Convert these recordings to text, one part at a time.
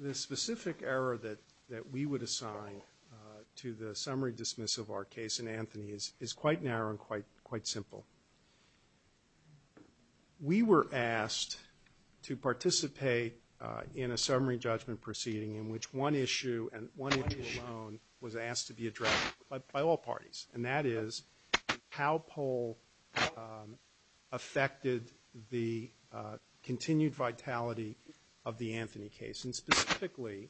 The specific error that we would assign to the summary dismissal of our case in Anthony is quite narrow and quite simple. We were asked to participate in a summary judgment proceeding in which one issue and one issue alone was asked to be addressed by all parties, and that is how Pohl affected the continued vitality of the Anthony case. And specifically,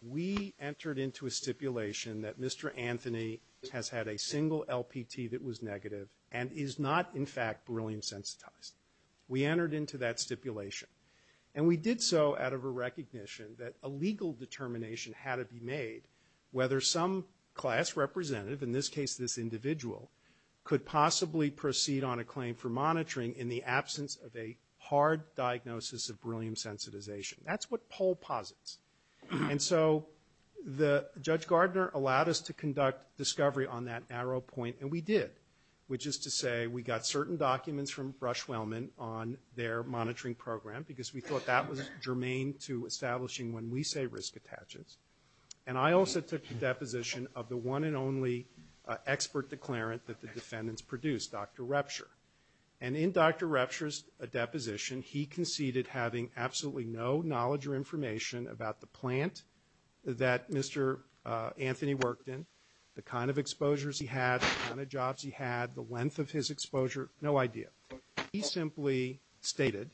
we entered into a stipulation that Mr. Anthony has had a single LPT that was negative and is not, in fact, beryllium-sensitized. We entered into that stipulation. And we did so out of a recognition that a legal determination had to be made whether some class representative, in this case this individual, could possibly proceed on a claim for monitoring in the absence of a hard diagnosis of beryllium sensitization. That's what Pohl posits. And so Judge Gardner allowed us to conduct discovery on that narrow point, and we did, which is to say we got certain documents from Brush-Wellman on their monitoring program because we thought that was germane to establishing when we say risk attachments. And I also took the deposition of the one and only expert declarant that the defendants produced, Dr. Repsher. And in Dr. Repsher's deposition, he conceded having absolutely no knowledge or information about the plant that Mr. Anthony worked in, the kind of exposures he had, the kind of exposure, no idea. He simply stated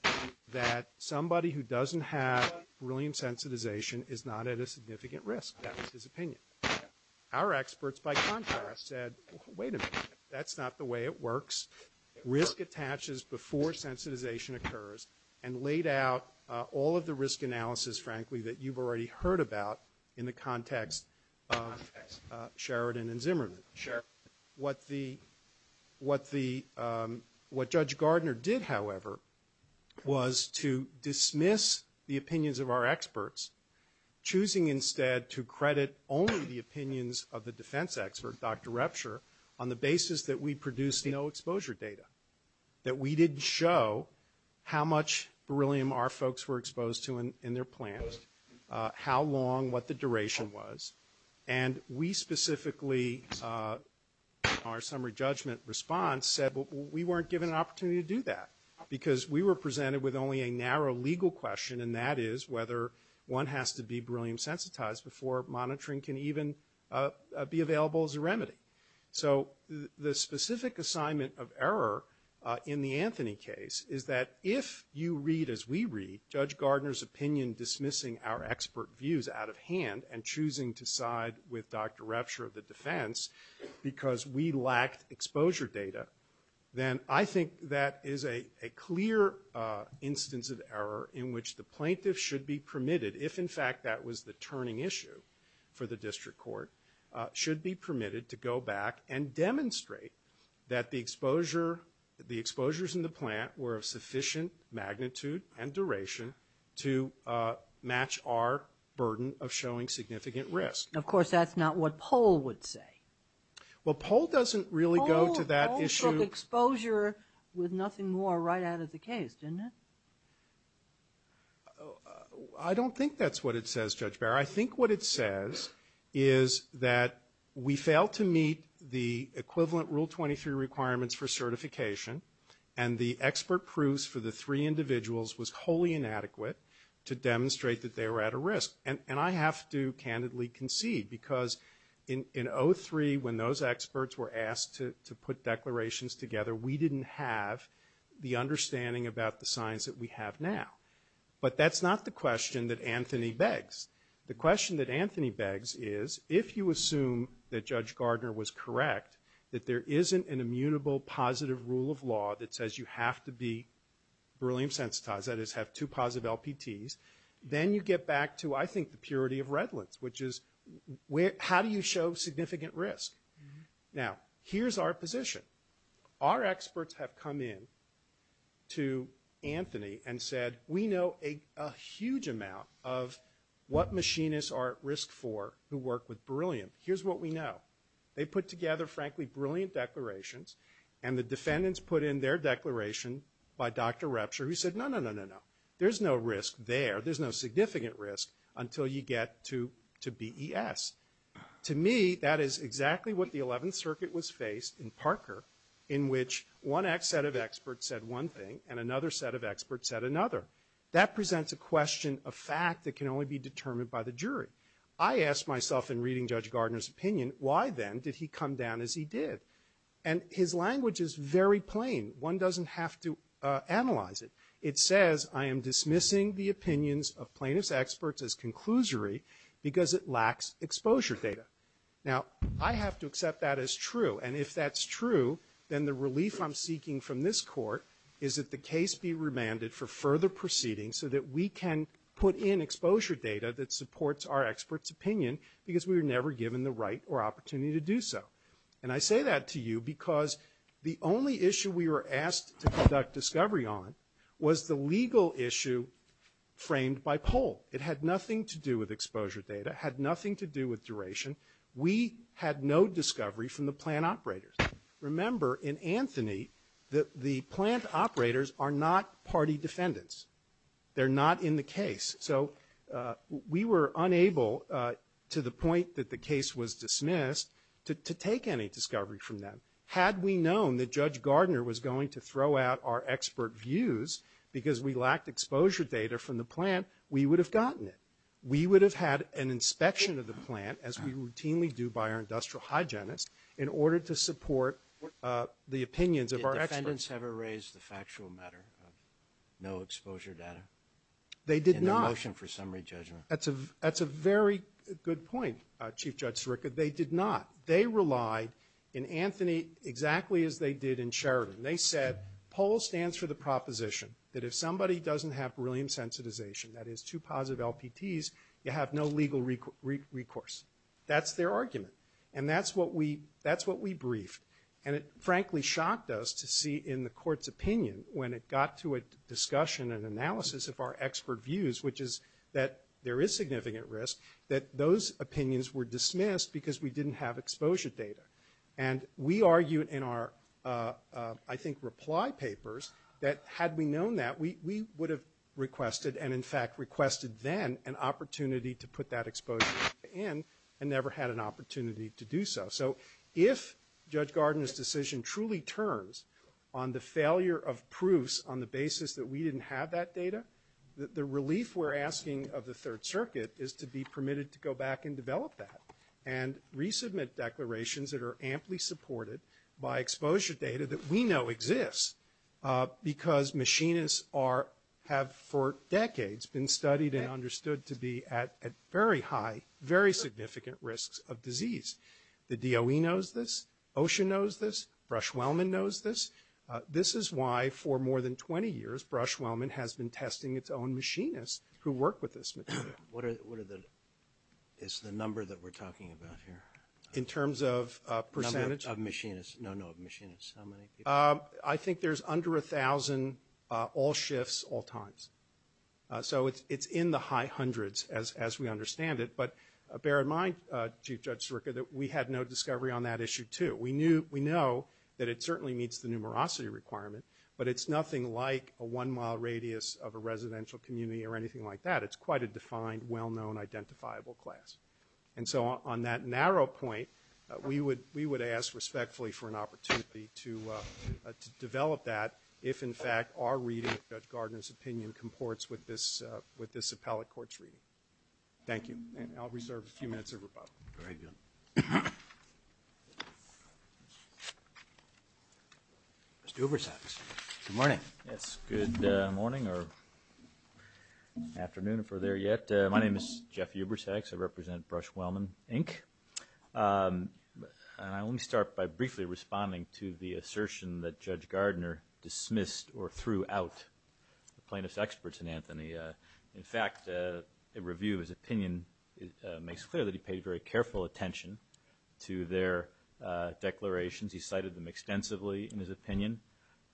that somebody who doesn't have beryllium sensitization is not at a significant risk. That was his opinion. Our experts, by contrast, said, wait a minute, that's not the way it works. Risk attaches before sensitization occurs, and laid out all of the risk analysis, frankly, that you've already heard about in the context of Sheridan and Zimmerman. What Judge Gardner did, however, was to dismiss the opinions of our experts, choosing instead to credit only the opinions of the defense expert, Dr. Repsher, on the basis that we produced no exposure data, that we didn't show how much beryllium was. And we specifically, in our summary judgment response, said we weren't given an opportunity to do that, because we were presented with only a narrow legal question, and that is whether one has to be beryllium sensitized before monitoring can even be available as a remedy. So the specific assignment of error in the Anthony case is that if you read, as we read, Judge Gardner's opinion dismissing our expert views out of hand and choosing to side with Dr. Repsher of the defense because we lacked exposure data, then I think that is a clear instance of error in which the plaintiff should be permitted, if in fact that was the turning issue for the district court, should be permitted to go back and and duration to match our burden of showing significant risk. Of course, that's not what Pohl would say. Well, Pohl doesn't really go to that issue. Pohl took exposure with nothing more right out of the case, didn't he? I don't think that's what it says, Judge Barrow. I think what it says is that we failed to meet the equivalent Rule 23 requirements for certification, and the expert proofs for the three individuals was wholly inadequate to demonstrate that they were at a risk. And I have to candidly concede because in 03, when those experts were asked to put declarations together, we didn't have the understanding about the science that we have now. But that's not the question that Anthony begs. The question that Anthony begs is if you assume that Judge Gardner was correct, that there isn't an immutable positive rule of law that says you have to be beryllium-sensitized, that is have two positive LPTs, then you get back to, I think, the purity of redlands, which is how do you show significant risk? Now, here's our position. Our experts have come in to Anthony and said, we know a huge amount of what machinists are at risk for who work with beryllium. Here's what we know. They put together, frankly, brilliant declarations, and the defendants put in their declaration by Dr. Repture who said, no, no, no, no, no. There's no risk there. There's no significant risk until you get to BES. To me, that is exactly what the 11th Circuit was faced in Parker in which one set of experts said one thing and another set of experts said another. That presents a question of fact that can only be determined by the jury. I asked myself in reading Judge Gardner's opinion, why then did he come down as he did? And his language is very plain. One doesn't have to analyze it. It says, I am dismissing the opinions of plaintiff's experts as conclusory because it lacks exposure data. Now, I have to accept that as true, and if that's true, then the relief I'm seeking from this Court is that the case be remanded for further proceeding so that we can put in exposure data that supports our expert's opinion because we were never given the right or opportunity to do so. And I say that to you because the only issue we were asked to conduct discovery on was the legal issue framed by poll. It had nothing to do with exposure data. It had nothing to do with duration. We had no discovery from the plant operators. Remember, in Anthony, the plant operators are not party defendants. They're not in the case. So we were unable, to the point that the case was dismissed, to take any discovery from them. Had we known that Judge Gardner was going to throw out our expert views because we lacked exposure data from the plant, we would have gotten it. We would have had an inspection of the plant. Did the defendants ever raise the factual matter of no exposure data in their motion for summary judgment? That's a very good point, Chief Judge Sirica. They did not. They relied in Anthony exactly as they did in Sheridan. They said, poll stands for the proposition that if somebody doesn't have beryllium sensitization, that is, two positive LPTs, you have no legal recourse. That's their argument. And that's what we briefed. And it, frankly, shocked us to see in the Court's opinion, when it got to a discussion and analysis of our expert views, which is that there is significant risk, that those opinions were dismissed because we didn't have exposure data. And we argued in our, I think, reply papers that, had we known that, we would have requested and, in fact, requested then an opportunity to put that exposure data in and never had an opportunity to do so. So if Judge Gardner's decision truly turns on the failure of proofs on the basis that we didn't have that data, the relief we're asking of the Third Circuit is to be permitted to go back and develop that and resubmit declarations that are amply supported by exposure data that we know exists because machinists are, have for decades been studied and understood to be at very high, very significant risks of disease. The DOE knows this. OSHA knows this. Brush-Wellman knows this. This is why, for more than 20 years, Brush-Wellman has been testing its own machinists who work with this material. What are the, is the number that we're talking about here? In terms of percentage? Of machinists. No, no, of machinists. How many people? I think there's under 1,000 all shifts, all times. So it's in the high hundreds as we understand it. But bear in mind, Chief Judge Sirica, that we had no discovery on that issue, too. We knew, we know that it certainly meets the numerosity requirement, but it's nothing like a one-mile radius of a residential community or anything like that. It's quite a defined, well-known, identifiable class. And so on that narrow point, we would, we would ask respectfully for an opportunity to, to develop that if, in fact, our reading of Judge Gardner's opinion comports with this, with this appellate court's reading. Thank you. And I'll reserve a few minutes of rebuttal. Thank you. Mr. Ubersax. Good morning. Yes, good morning or afternoon, if we're there yet. My name is Jeff Ubersax. I represent Brush-Wellman, Inc. Let me start by briefly responding to the assertion that Judge Gardner dismissed or threw out the plaintiff's experts in Anthony. In fact, a review of his opinion makes clear that he paid very careful attention to their declarations. He cited them extensively in his opinion,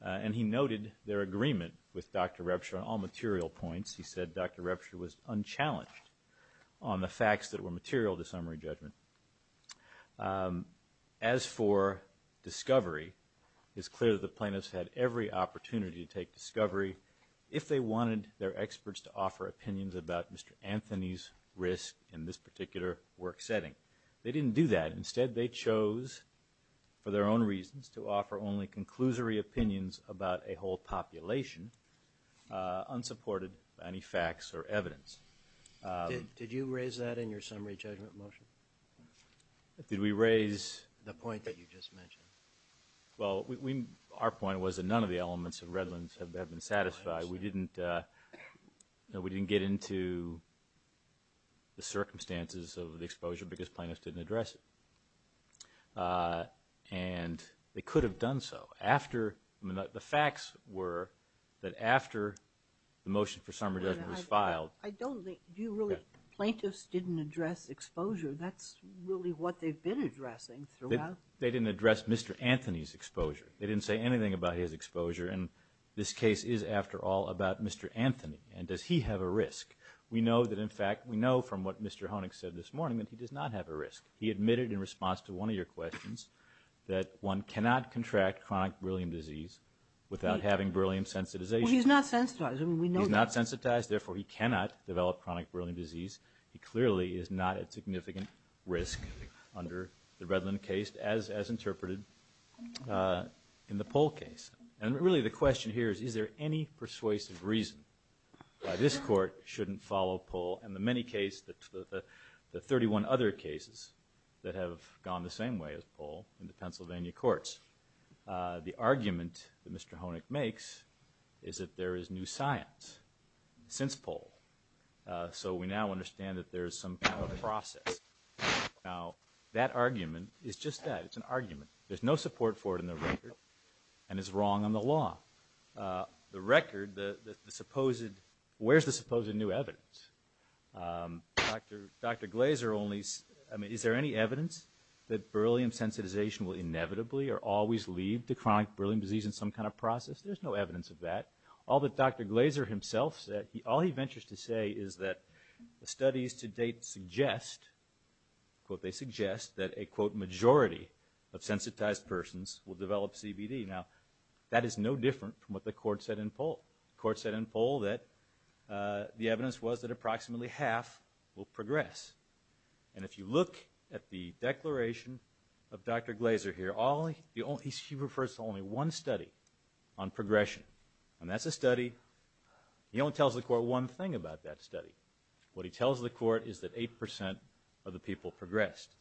and he noted their agreement with Dr. Repscher on all material points. He said Dr. Repscher was unchallenged on the facts that were material to summary judgment. As for discovery, it's clear that the plaintiffs had every opportunity to take discovery if they wanted their experts to offer opinions about Mr. Anthony's risk in this particular work setting. They didn't do that. Instead, they chose, for their own reasons, to offer only conclusory opinions about a whole population, unsupported by any facts or evidence. Did you raise that in your summary judgment motion? Did we raise... The point that you just mentioned. Well, our point was that none of the elements of Redlands have been satisfied. We didn't get into the circumstances of the exposure because plaintiffs didn't address it. And they could have done so. The facts were that after the motion for summary judgment was filed... I don't think... Do you really... Plaintiffs didn't address exposure. That's really what they've been addressing throughout. They didn't address Mr. Anthony's exposure. They didn't say anything about his exposure. And this case is, after all, about Mr. Anthony. And does he have a risk? We know that, in fact, we know from what Mr. Honig said this morning that he does not have a risk. He admitted in response to one of your questions that one cannot contract chronic beryllium disease without having beryllium sensitization. Well, he's not sensitized. I mean, we know that. He's not sensitized. Therefore, he cannot develop chronic beryllium disease. He clearly is not at significant risk under the Redland case, as interpreted in the Pohl case. And really, the question here is, is there any persuasive reason why this court shouldn't follow Pohl and the many cases, the 31 other cases that have gone the same way as Pohl in the Pennsylvania courts? The argument that Mr. Honig makes is that there is new science since Pohl. So we now understand that there is some kind of process. Now, that argument is just that. It's an argument. There's no support for it in the record and it's wrong on the law. The record, the supposed... Dr. Glaser only... I mean, is there any evidence that beryllium sensitization will inevitably or always lead to chronic beryllium disease in some kind of process? There's no evidence of that. All that Dr. Glaser himself said, all he ventures to say is that studies to date suggest, quote, they suggest that a, quote, majority of sensitized persons will develop CBD. Now, that is no different from what the court said in Pohl. The court said in Pohl that the evidence was that approximately half will progress. And if you look at the declaration of Dr. Glaser here, he refers to only one study on progression. And that's a study. He only tells the court one thing about that study. What he tells the court is that 8% of the people progressed.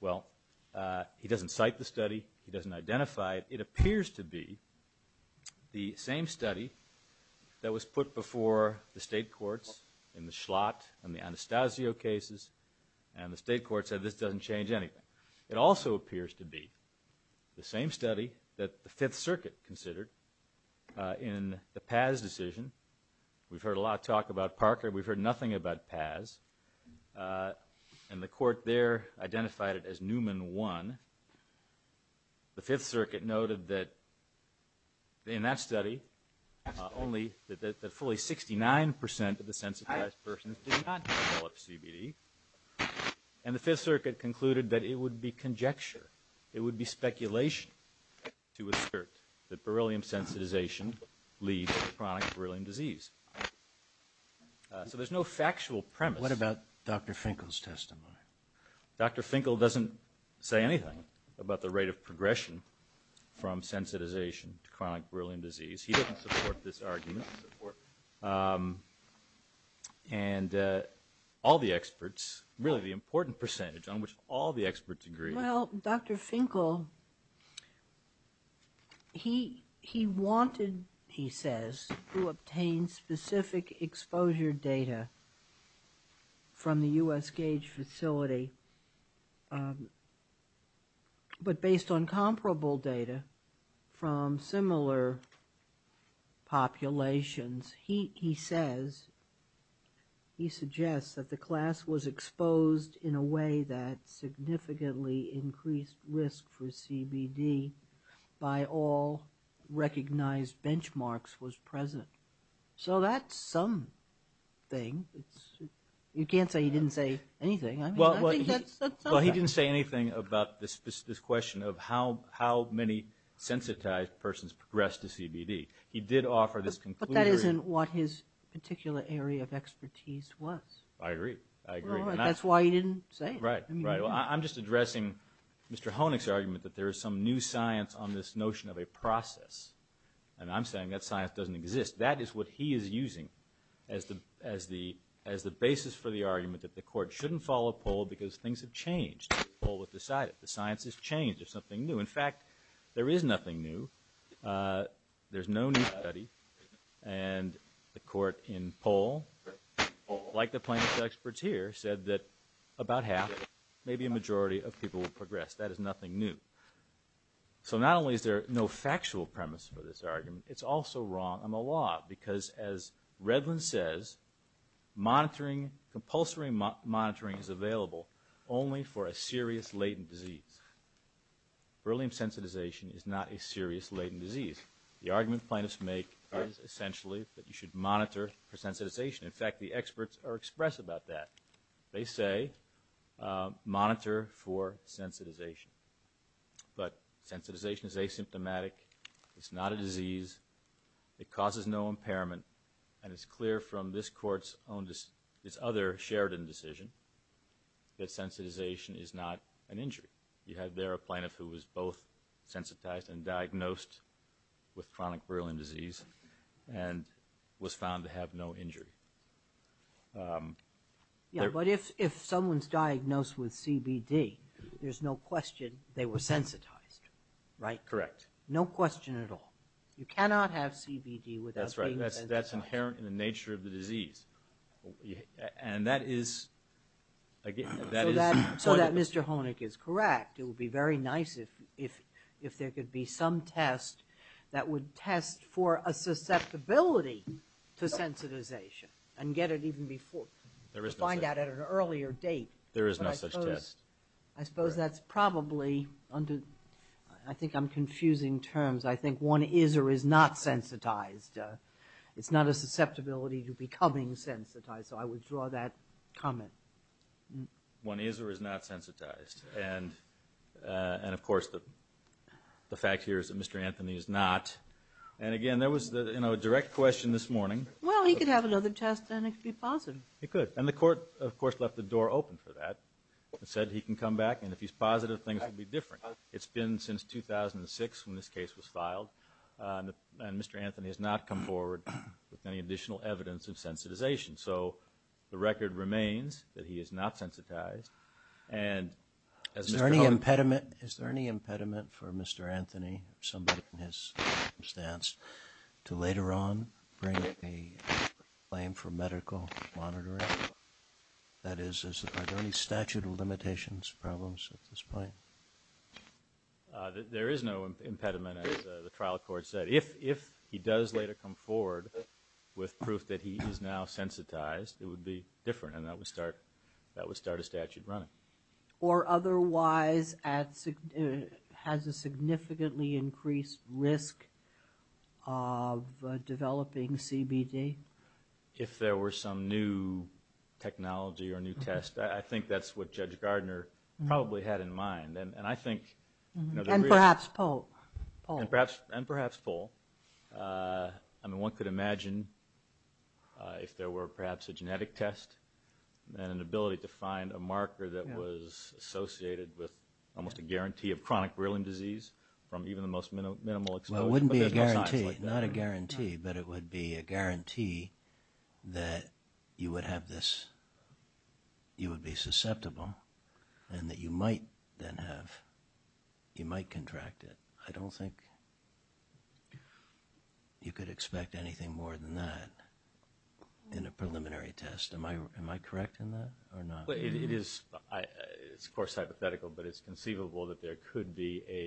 Well, he doesn't cite the study. He doesn't identify it. It appears to be the same study that was put before the state courts in the Schlott and the Anastasio cases. And the state court said this doesn't change anything. It also appears to be the same study that the Fifth Circuit considered in the Paz decision. We've heard a lot of talk about Parker. We've heard nothing about Paz. And the court there identified it as Newman 1. The Fifth Circuit noted that in that study only that fully 69% of the sensitized persons did not develop CBD. And the Fifth Circuit concluded that it would be conjecture. It would be speculation to assert that beryllium sensitization leads to chronic beryllium disease. So there's no factual premise. What about Dr. Finkel's testimony? Dr. Finkel doesn't say anything about the rate of progression from sensitization to chronic beryllium disease. He doesn't support this argument. And all the experts, really the important percentage on which all the experts agree. Well, Dr. Finkel, he wanted, he says, who obtains beryllium specific exposure data from the U.S. Gauge facility, but based on comparable data from similar populations, he says, he suggests that the class was exposed in a way that significantly increased risk for CBD by all recognized benchmarks was present. So that's not true. Well, that's something. You can't say he didn't say anything. I mean, I think that's something. Well, he didn't say anything about this question of how many sensitized persons progressed to CBD. He did offer this conclusion. But that isn't what his particular area of expertise was. I agree. I agree. That's why he didn't say it. Right. Right. Well, I'm just addressing Mr. Honig's argument that there is some new science on this notion of a process. And I'm saying that science doesn't exist. That is what he is using as the basis for the argument that the Court shouldn't follow Pohl because things have changed. Pohl will decide it. The science has changed. There's something new. In fact, there is nothing new. There's no new study. And the Court in Pohl, like the plaintiff's experts here, said that about half, maybe a majority of people will progress. That is nothing new. So not only is there no factual premise for this argument, it's also wrong on the law. Because as Redlin says, monitoring, compulsory monitoring is available only for a serious latent disease. Beryllium sensitization is not a serious latent disease. The argument plaintiffs make is essentially that you should monitor for sensitization. In fact, the experts are express about that. They say monitor for sensitization. But sensitization is asymptomatic. It's not a disease. It causes no impairment. And it's clear from this Court's own – this other Sheridan decision that sensitization is not an injury. You had there a plaintiff who was both sensitized and diagnosed with chronic Beryllium disease and was found to have no injury. Yeah, but if someone's diagnosed with CBD, there's no question they were sensitized, right? Correct. No question at all. You cannot have CBD without being sensitized. That's right. That's inherent in the nature of the disease. And that is – So that Mr. Honig is correct. It would be very nice if there could be some test that would test for a susceptibility to sensitization and get it even before – find out at an earlier date. There is no such test. I suppose that's probably – I think I'm confusing terms. I think one is or is not sensitized. It's not a susceptibility to becoming sensitized. So I withdraw that comment. One is or is not sensitized. And of course, the fact here is that Mr. Anthony is not. And again, there was a direct question this morning – Well, he could have another test and it could be positive. He could. And the Court, of course, left the door open for that. It said he can come back and if he's positive, things will be different. It's been since 2006 when this case was filed. And Mr. Anthony has not come forward with any additional evidence of sensitization. So the record remains that he is not sensitized. And as Mr. Honig – Is there any impediment for Mr. Anthony or somebody in his circumstance to later on bring a claim for medical monitoring? That is, is there any statute of limitations, problems at this point? There is no impediment, as the trial court said. If he does later come forward with proof that he is now sensitized, it would be different and that would start a statute running. Or otherwise has a significantly increased risk of developing CBD? If there were some new technology or new test, I think that's what Judge Gardner probably had in mind. And I think – And perhaps Pohl. And perhaps Pohl. I mean, one could imagine if there were perhaps a genetic test and an ability to find a marker that was associated with almost a guarantee of chronic wheeling disease from even the most minimal exposure, but there's no science like that. Well, it wouldn't be a guarantee, not a guarantee, but it would be a guarantee that you would have this – you would be susceptible and that you might then have – you might contract it. I don't think you could expect anything more than that in a preliminary test. Am I correct in that or not? It is, of course, hypothetical, but it's conceivable that there could be a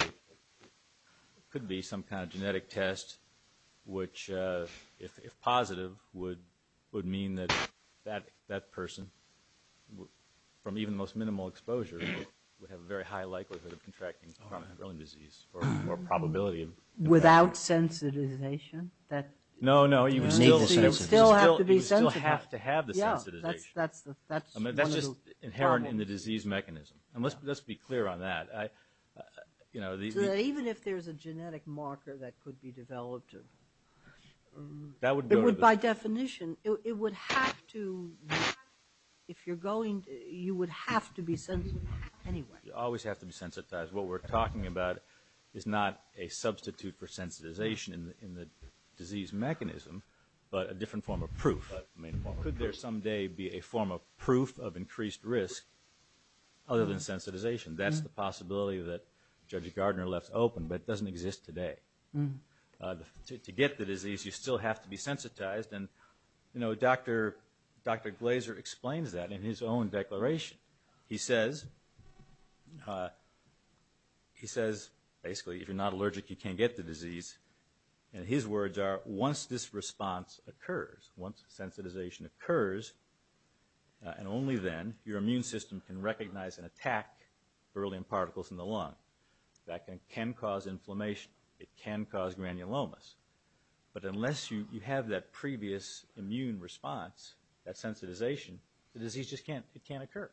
– could be some kind of genetic test which, if positive, would mean that that person, from even the most minimal exposure, would have a very high likelihood of contracting chronic wheeling disease or probability of developing it. Without sensitization that – No, no, you would still – You would still have to be sensitive. You would still have to have the sensitization. Yeah, that's the – that's one of the problems. I mean, that's just inherent in the disease mechanism. And let's be clear on that. I – you know, the – So that even if there's a genetic marker that could be developed to – That would go to the – You would still have to be sensitive anyway. You always have to be sensitized. What we're talking about is not a substitute for sensitization in the disease mechanism, but a different form of proof. I mean, could there someday be a form of proof of increased risk other than sensitization? That's the possibility that Judge Gardner left open, but it doesn't exist today. To get the disease, you still have to be sensitized. And, you know, Dr. Glaser explains that in his own declaration. He says – he says, basically, if you're not allergic, you can't get the disease. And his words are, once this response occurs, once sensitization occurs, and only then your immune system can recognize and attack beryllium particles in the lung. That can cause inflammation. It can cause granulomas. But unless you have that previous immune response, that sensitization, the disease just can't – it can't occur.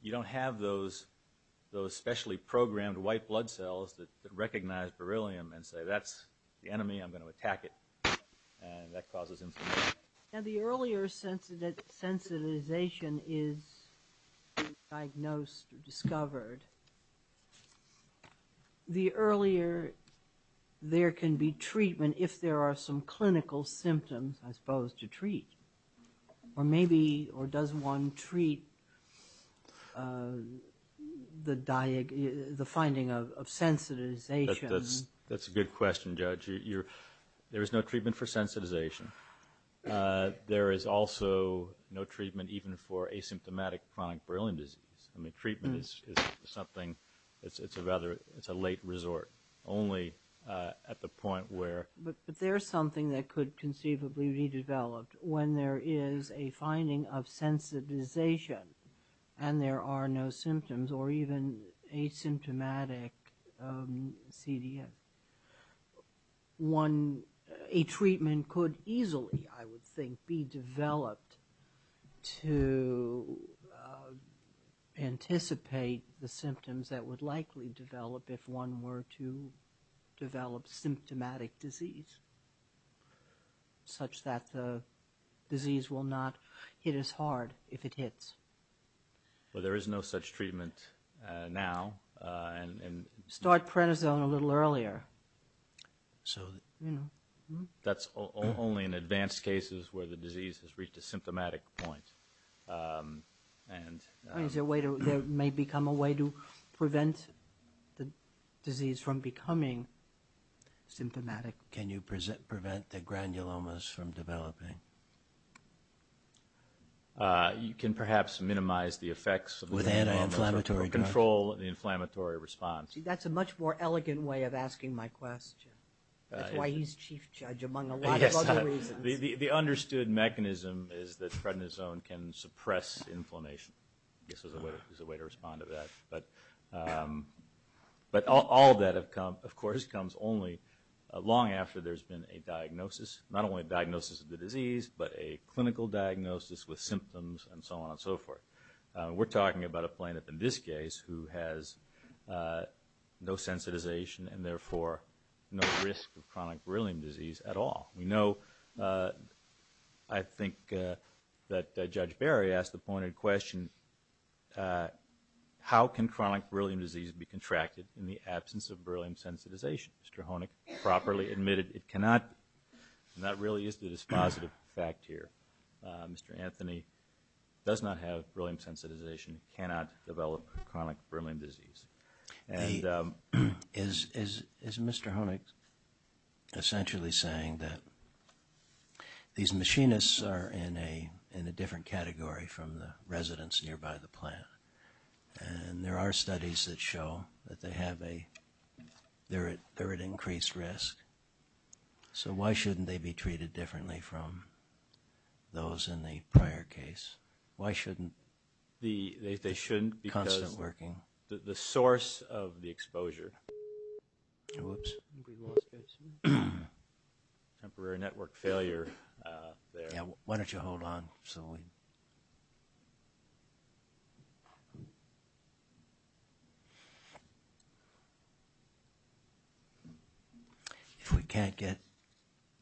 You don't have those specially programmed white blood cells that recognize beryllium and say, that's the enemy, I'm going to attack it. And that causes inflammation. Now, the earlier sensitization is diagnosed or discovered, the earlier there can be treatment, if there are some clinical symptoms, I suppose, to treat. Or maybe – or does one treat the – the finding of sensitization? That's a good question, Judge. You're – there is no treatment for sensitization. There is also no treatment even for asymptomatic chronic beryllium disease. I mean, treatment is something – it's a rather – it's a late resort, only at the point where – But there's something that could conceivably be developed when there is a finding of sensitization and there are no symptoms or even asymptomatic CDN. One – a treatment could easily, I would think, be developed to anticipate the symptoms that would likely develop if one were to develop Well, there is no such treatment now. And – Start prednisone a little earlier. So – You know. That's only in advanced cases where the disease has reached a symptomatic point. And – Is there a way to – there may become a way to prevent the disease from becoming symptomatic. Can you prevent the granulomas from developing? You can perhaps minimize the effects of the granulomas. With anti-inflammatory drugs. Or control the inflammatory response. See, that's a much more elegant way of asking my question. That's why he's chief judge among a lot of other reasons. Yes. The understood mechanism is that prednisone can suppress inflammation. This is a way to respond to that. But all that, of course, comes only long after there's been a diagnosis. Not just a diagnosis of the disease, but a clinical diagnosis with symptoms and so on and so forth. We're talking about a plaintiff in this case who has no sensitization and therefore no risk of chronic beryllium disease at all. We know, I think, that Judge Barry asked the pointed question, how can chronic beryllium disease be contracted in the absence of beryllium sensitization? Which Mr. Honig properly admitted it cannot. And that really is the dispositive fact here. Mr. Anthony does not have beryllium sensitization and cannot develop chronic beryllium disease. Is Mr. Honig essentially saying that these machinists are in a different category from the residents nearby the plant? And there are studies that show that they're at increased risk. So why shouldn't they be treated differently from those in the prior case? Why shouldn't they? They shouldn't because the source of the exposure. Oops. Temporary network failure there. Why don't you hold on? If we can't get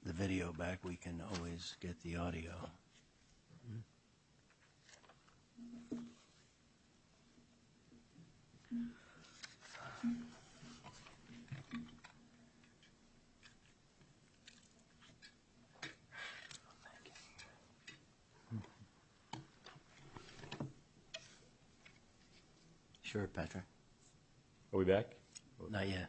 the video back, we can always get the audio. Sure, Patrick. Are we back? Not yet.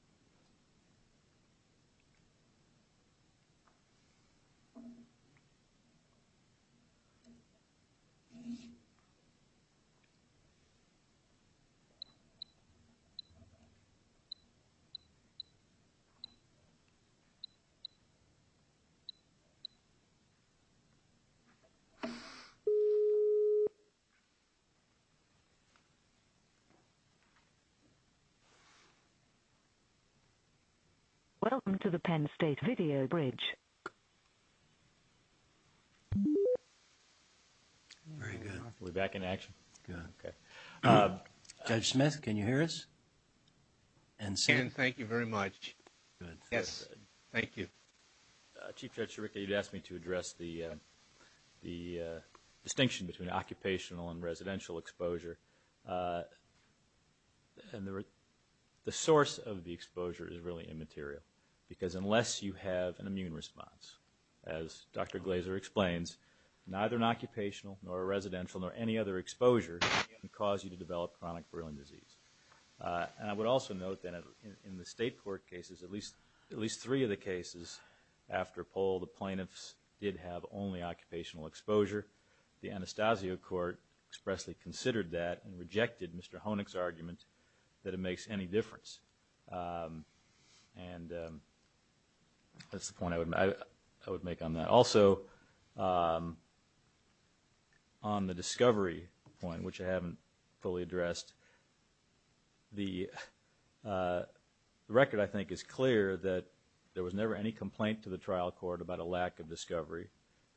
Okay. Okay. It's us. Good. We're back in action. Good. Okay. Judge Smith, can you hear us? And thank you very much. Yes. Thank you. Chief Judge Chiricka, you'd asked me to address the distinction between occupational and residential exposure. And the source of the exposure is really immaterial because unless you have an immune response, as Dr. Glazer explains, neither an occupational nor a residential nor any other exposure can cause you to develop chronic Bruin disease. And I would also note that in the state court cases, at least three of the cases after a poll, the plaintiffs did have only occupational exposure. The Anastasio Court expressly considered that and rejected Mr. Honig's argument that it makes any difference. And that's the point I would make on that. Also, on the discovery point, which I haven't fully addressed, the record I think is clear that there was never any complaint to the trial court about a lack of discovery,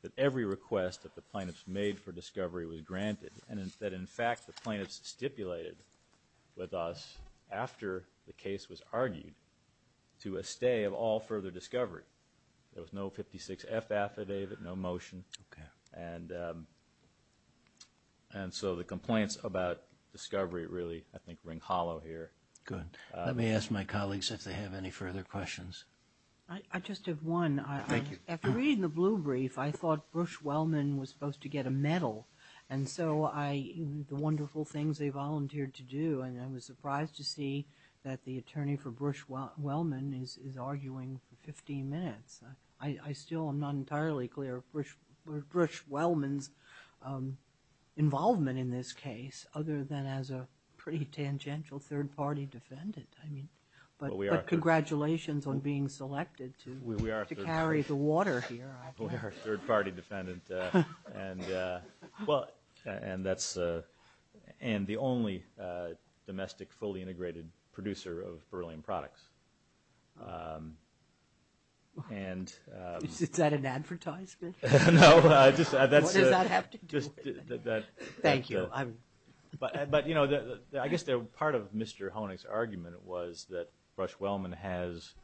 that every request that the plaintiffs made for discovery was granted, and that in fact the plaintiffs stipulated with us after the case was argued to a stay of all further discovery. There was no 56F affidavit, no motion. Okay. And so the complaints about discovery really, I think, ring hollow here. Good. Let me ask my colleagues if they have any further questions. I just have one. Thank you. After reading the blue brief, I thought Bruce Wellman was supposed to get a medal. And so the wonderful things they volunteered to do, and I was surprised to see that the attorney for Bruce Wellman is arguing for 15 minutes. I still am not entirely clear of Bruce Wellman's involvement in this case, other than as a pretty tangential third-party defendant. But congratulations on being selected to carry the water here. We are a third-party defendant and the only domestic fully integrated producer of beryllium products. Is that an advertisement? No. What does that have to do with it? Thank you. But, you know, I guess part of Mr. Honig's argument was that Bruce Wellman has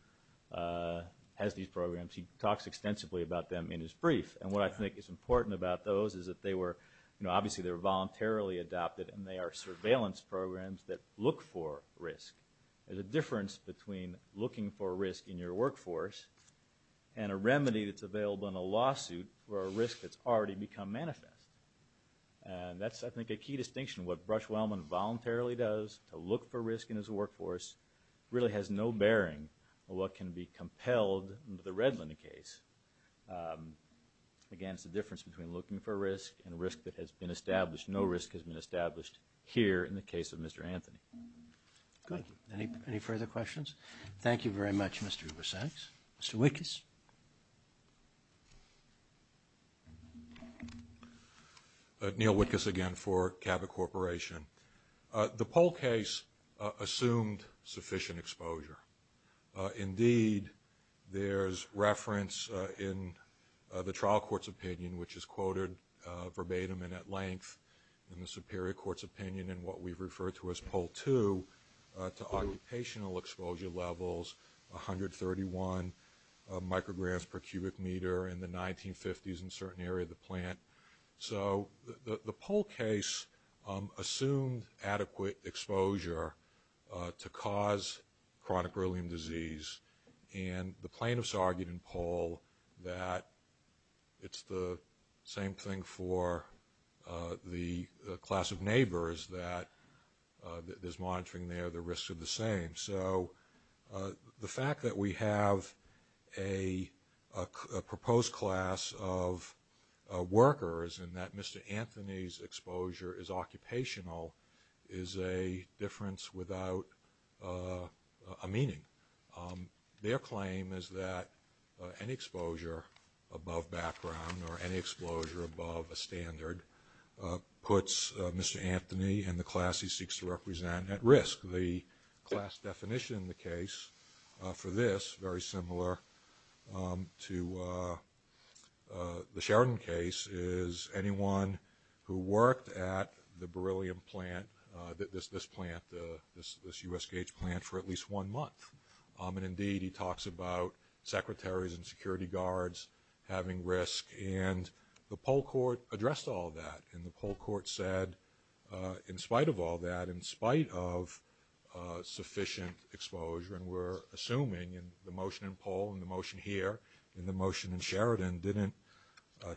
these programs. He talks extensively about them in his brief. And what I think is important about those is that they were, you know, obviously they were voluntarily adopted and they are surveillance programs that look for risk. There's a difference between looking for risk in your workforce and a remedy that's available in a lawsuit for a risk that's already become manifest. And that's, I think, a key distinction. What Bruce Wellman voluntarily does to look for risk in his workforce really has no bearing on what can be compelled into the Redland case. Again, it's the difference between looking for risk and risk that has been established. No risk has been established here in the case of Mr. Anthony. Good. Any further questions? Thank you very much, Mr. Ubersax. Mr. Wittges? Neil Wittges again for Cabot Corporation. The Pohl case assumed sufficient exposure. Indeed, there's reference in the trial court's opinion, which is quoted verbatim and at length in the Superior Court's opinion in what we've referred to as Poll 2, to occupational exposure levels, 131 micrograms per cubic meter in the 1950s in a certain area of the plant. So the Pohl case assumed adequate exposure to cause chronic beryllium disease, and the plaintiffs argued in Pohl that it's the same thing for the class of neighbors that there's monitoring there, the risks are the same. So the fact that we have a proposed class of workers and that Mr. Anthony's exposure is occupational is a difference without a meaning. Their claim is that any exposure above background or any exposure above a standard puts Mr. Anthony and the class he seeks to represent at risk. The class definition in the case for this, very similar to the Sheridan case, is anyone who worked at the beryllium plant, this plant, this U.S. Gage plant, for at least one month. And indeed, he talks about secretaries and security guards having risk, and the Pohl court addressed all that, and the Pohl court said in spite of all that, in spite of sufficient exposure, and we're assuming in the motion in Pohl and the motion here, and the motion in Sheridan, didn't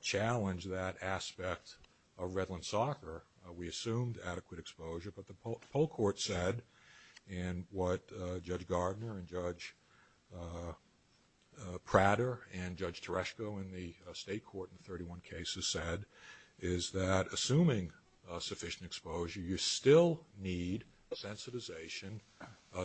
challenge that aspect of Redland soccer. We assumed adequate exposure, but the Pohl court said, and what Judge Gardner and Judge Prater and Judge Tereshko in the state court in 31 cases said, is that assuming sufficient exposure, you still need sensitization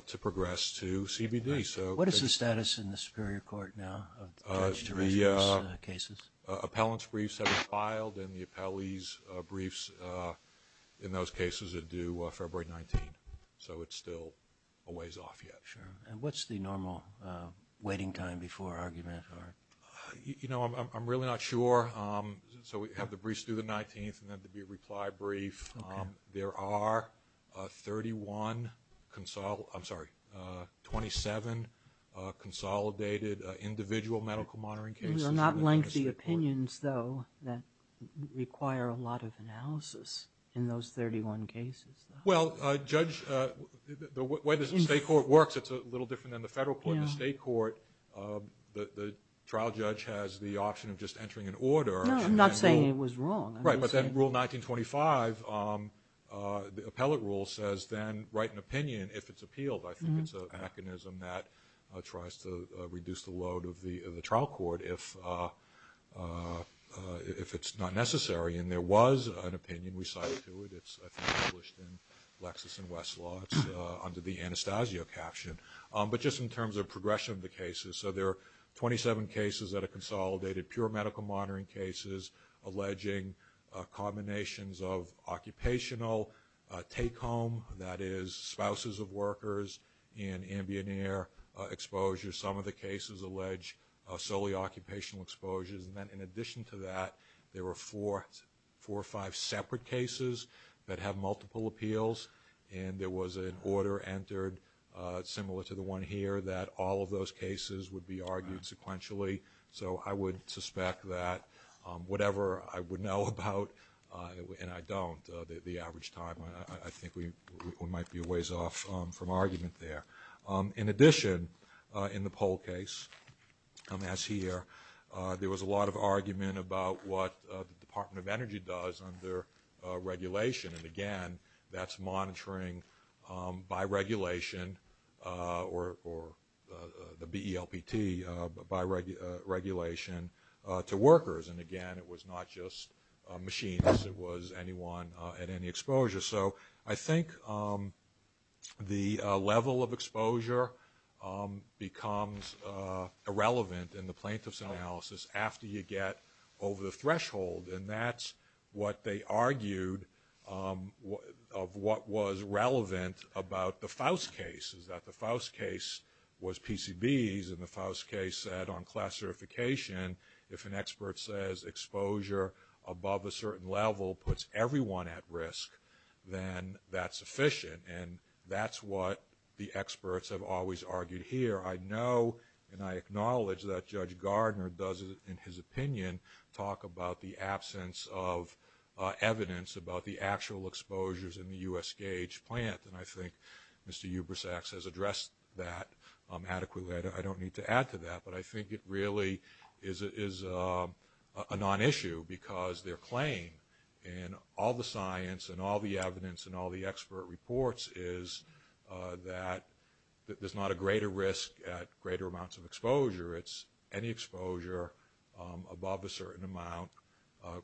to progress to CBD. What is the status in the superior court now of Judge Tereshko's cases? Appellant's briefs have been filed, and the appellee's briefs in those cases are due February 19. So it's still a ways off yet. And what's the normal waiting time before argument? You know, I'm really not sure. So we have the briefs due the 19th, and then the reply brief. Okay. There are 31, I'm sorry, 27 consolidated individual medical monitoring cases. These are not lengthy opinions, though, that require a lot of analysis in those 31 cases. Well, Judge, the way the state court works, it's a little different than the federal court. In the state court, the trial judge has the option of just entering an order. No, I'm not saying it was wrong. Right, but then Rule 1925, the appellate rule, says then write an opinion if it's appealed. I think it's a mechanism that tries to reduce the load of the trial court if it's not necessary. And there was an opinion recited to it. It's, I think, published in Lexis and Westlaw under the Anastasio caption. But just in terms of progression of the cases, so there are 27 cases that are consolidated, pure medical monitoring cases, alleging combinations of occupational take-home, that is spouses of workers, and ambient air exposure. Some of the cases allege solely occupational exposures. And then in addition to that, there were four or five separate cases that have multiple appeals. And there was an order entered, similar to the one here, that all of those cases would be argued sequentially. So I would suspect that whatever I would know about, and I don't, the average time, I think we might be a ways off from argument there. In addition, in the poll case, as here, there was a lot of argument about what the Department of Energy does under regulation. And, again, that's monitoring by regulation or the BELPT by regulation to workers. And, again, it was not just machines. It was anyone at any exposure. So I think the level of exposure becomes irrelevant in the plaintiff's analysis after you get over the threshold. And that's what they argued of what was relevant about the Faust case, is that the Faust case was PCBs, and the Faust case said on class certification, if an expert says exposure above a certain level puts everyone at risk, then that's sufficient. And that's what the experts have always argued here. However, I know and I acknowledge that Judge Gardner does, in his opinion, talk about the absence of evidence about the actual exposures in the U.S. Gauge plant. And I think Mr. Eubersacks has addressed that adequately. I don't need to add to that. But I think it really is a non-issue because their claim in all the science and all the evidence and all the expert reports is that there's not a greater risk at greater amounts of exposure. It's any exposure above a certain amount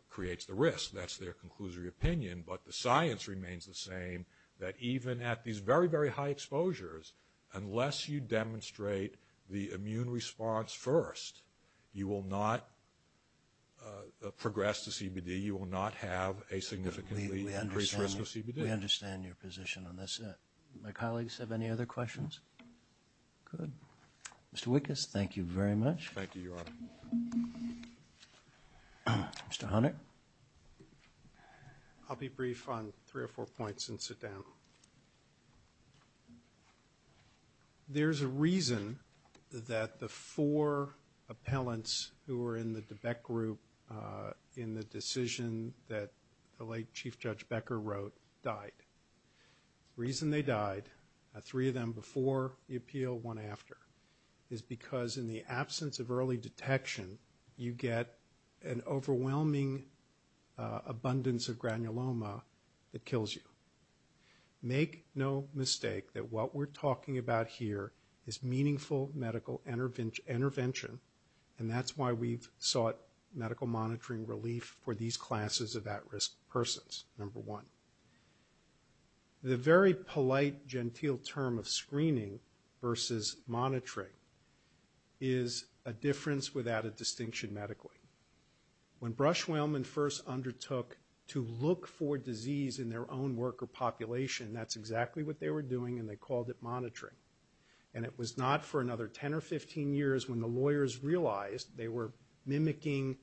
creates the risk. That's their conclusory opinion. But the science remains the same, that even at these very, very high exposures, unless you demonstrate the immune response first, you will not progress to CBD. You will not have a significantly increased risk of CBD. We understand your position on this. My colleagues have any other questions? Good. Mr. Wickes, thank you very much. Thank you, Your Honor. Mr. Hunter? I'll be brief on three or four points and sit down. There's a reason that the four appellants who were in the DeBeck Group in the decision that the late Chief Judge Becker wrote died. The reason they died, three of them before the appeal, one after, is because in the absence of early detection you get an overwhelming abundance of granuloma that kills you. Make no mistake that what we're talking about here is meaningful medical intervention, and that's why we've sought medical monitoring relief for these classes of at-risk persons, number one. The very polite, genteel term of screening versus monitoring is a difference without a distinction medically. When Brush-Whelman first undertook to look for disease in their own worker population, that's exactly what they were doing, and they called it monitoring. And it was not for another 10 or 15 years when the lawyers realized they were mimicking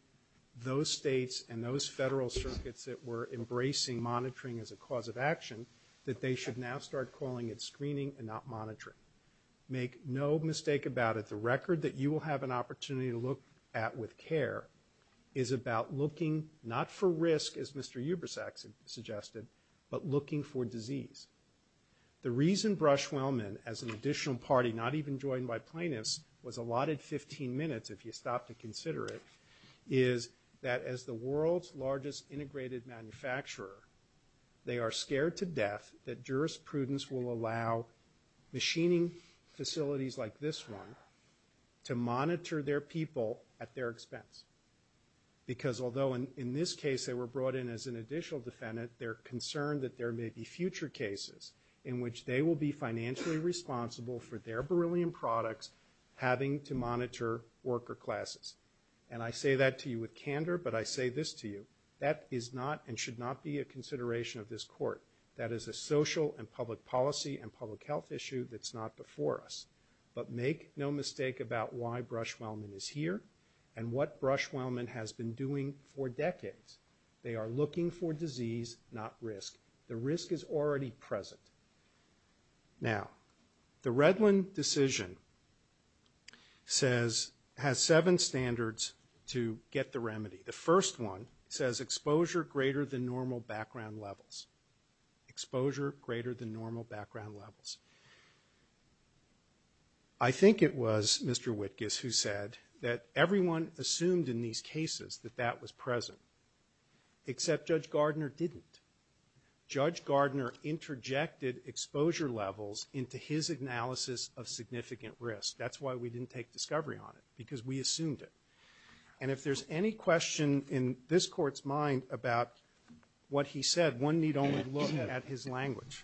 those states and those federal circuits that were embracing monitoring as a cause of action Make no mistake about it. The record that you will have an opportunity to look at with care is about looking not for risk, as Mr. Eubersack suggested, but looking for disease. The reason Brush-Whelman, as an additional party not even joined by plaintiffs, was allotted 15 minutes, if you stop to consider it, is that as the world's largest integrated manufacturer, they are scared to death that jurisprudence will allow machining facilities like this one to monitor their people at their expense. Because although in this case they were brought in as an additional defendant, they're concerned that there may be future cases in which they will be financially responsible for their beryllium products having to monitor worker classes. And I say that to you with candor, but I say this to you. That is not and should not be a consideration of this court. That is a social and public policy and public health issue that's not before us. But make no mistake about why Brush-Whelman is here and what Brush-Whelman has been doing for decades. They are looking for disease, not risk. The risk is already present. Now, the Redland decision has seven standards to get the remedy. The first one says exposure greater than normal background levels. Exposure greater than normal background levels. I think it was Mr. Wittges who said that everyone assumed in these cases that that was present, except Judge Gardner didn't. Judge Gardner interjected exposure levels into his analysis of significant risk. That's why we didn't take discovery on it, because we assumed it. And if there's any question in this court's mind about what he said, one need only look at his language.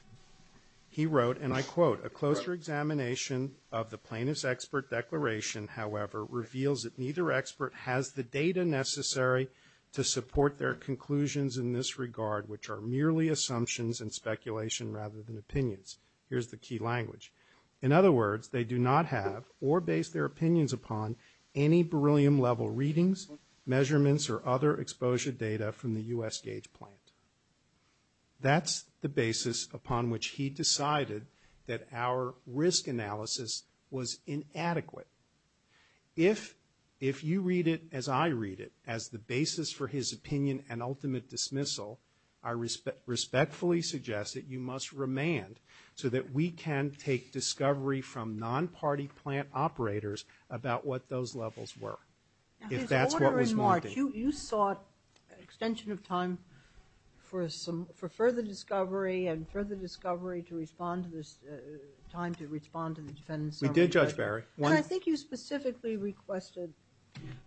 He wrote, and I quote, a closer examination of the plaintiff's expert declaration, however, reveals that neither expert has the data necessary to support their conclusions in this regard, which are merely assumptions and speculation rather than opinions. Here's the key language. In other words, they do not have or base their opinions upon any beryllium-level readings, measurements, or other exposure data from the U.S. Gauge plant. That's the basis upon which he decided that our risk analysis was inadequate. If you read it as I read it, as the basis for his opinion and ultimate dismissal, I respectfully suggest that you must remand so that we can take discovery from non-party plant operators about what those levels were, if that's what was wanted. You sought an extension of time for further discovery and further discovery to respond to this time to respond to the defendant's summary. We did, Judge Barry. I think you specifically requested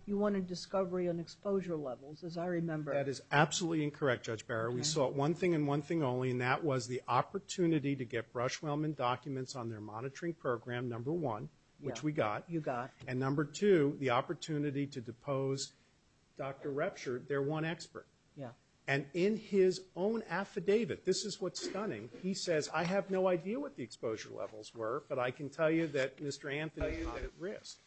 you wanted discovery on exposure levels, as I remember. That is absolutely incorrect, Judge Barry. We sought one thing and one thing only, and that was the opportunity to get Brushwellman documents on their monitoring program, number one, which we got. You got. And number two, the opportunity to depose Dr. Repsherd, their one expert. And in his own affidavit, this is what's stunning, he says, I have no idea what the exposure levels were, but I can tell you that Mr. Anthony is at risk.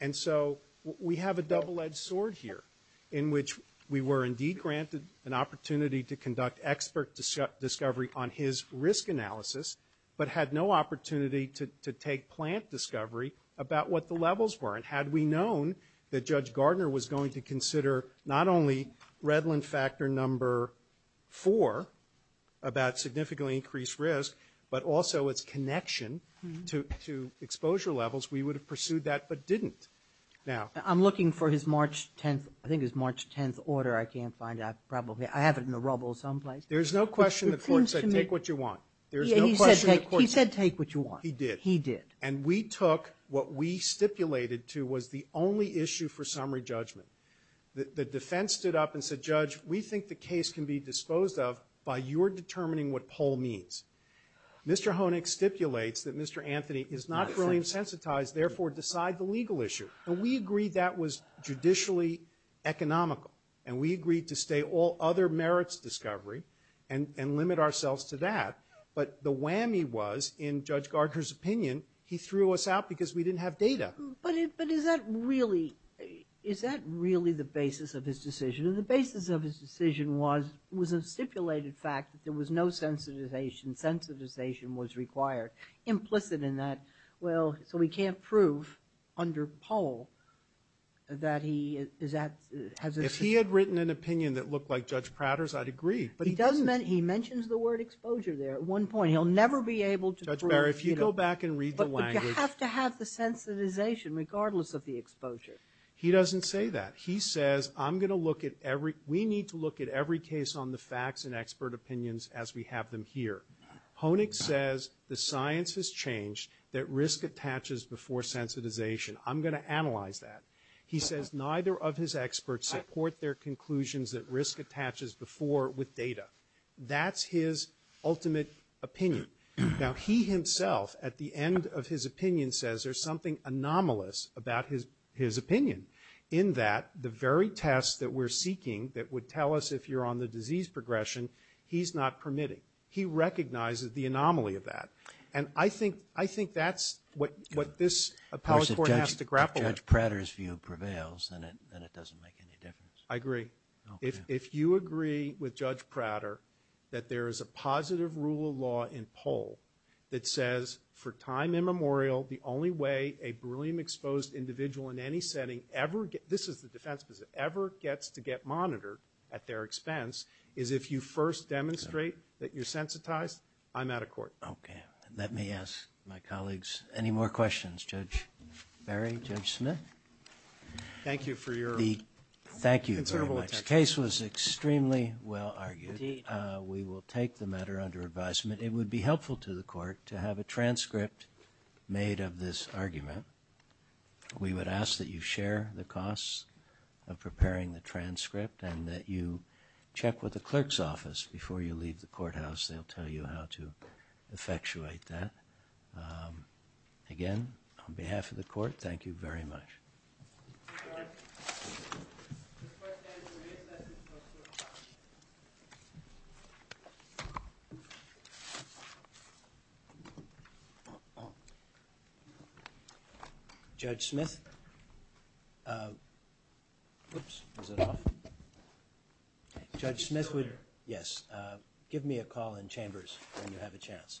And so we have a double-edged sword here in which we were indeed granted an opportunity to conduct expert discovery on his risk analysis, but had no opportunity to take plant discovery about what the levels were. And had we known that Judge Gardner was going to consider not only Redland factor number four, about significantly increased risk, but also its connection to exposure levels, we would have pursued that but didn't. I'm looking for his March 10th order. I can't find it. I have it in the rubble someplace. There's no question the Court said take what you want. He said take what you want. He did. He did. And we took what we stipulated to was the only issue for summary judgment. The defense stood up and said, Judge, we think the case can be disposed of by your determining what poll means. Mr. Honig stipulates that Mr. Anthony is not fully insensitized, therefore decide the legal issue. And we agreed that was judicially economical. And we agreed to stay all other merits discovery and limit ourselves to that. But the whammy was, in Judge Gardner's opinion, he threw us out because we didn't have data. But is that really the basis of his decision? And the basis of his decision was a stipulated fact that there was no sensitization. Sensitization was required. Implicit in that, well, so we can't prove under poll that he has a sensitivity. If he had written an opinion that looked like Judge Prater's, I'd agree. But he doesn't. He mentions the word exposure there at one point. He'll never be able to prove, you know. Judge Barry, if you go back and read the language. But you have to have the sensitization regardless of the exposure. He doesn't say that. He says I'm going to look at every we need to look at every case on the facts and expert opinions as we have them here. Honig says the science has changed that risk attaches before sensitization. I'm going to analyze that. He says neither of his experts support their conclusions that risk attaches before with data. That's his ultimate opinion. Now, he himself at the end of his opinion says there's something anomalous about his opinion. In that, the very test that we're seeking that would tell us if you're on the disease progression, he's not permitting. He recognizes the anomaly of that. And I think that's what this appellate court has to grapple with. If Judge Prater's view prevails, then it doesn't make any difference. I agree. If you agree with Judge Prater that there is a positive rule of law in Poll that says for time immemorial, the only way a beryllium exposed individual in any setting ever gets, this is the defense, ever gets to get monitored at their expense is if you first demonstrate that you're sensitized, I'm out of court. Okay. Let me ask my colleagues any more questions. Judge Berry, Judge Smith. Thank you for your considerable attention. Thank you very much. The case was extremely well argued. Indeed. We will take the matter under advisement. It would be helpful to the court to have a transcript made of this argument. We would ask that you share the costs of preparing the transcript and that you check with the clerk's office before you leave the courthouse. They'll tell you how to effectuate that. Again, on behalf of the court, thank you very much. Judge Smith? Oops. Is it off? Judge Smith would- Yes. Give me a call in chambers when you have a chance. Thank you.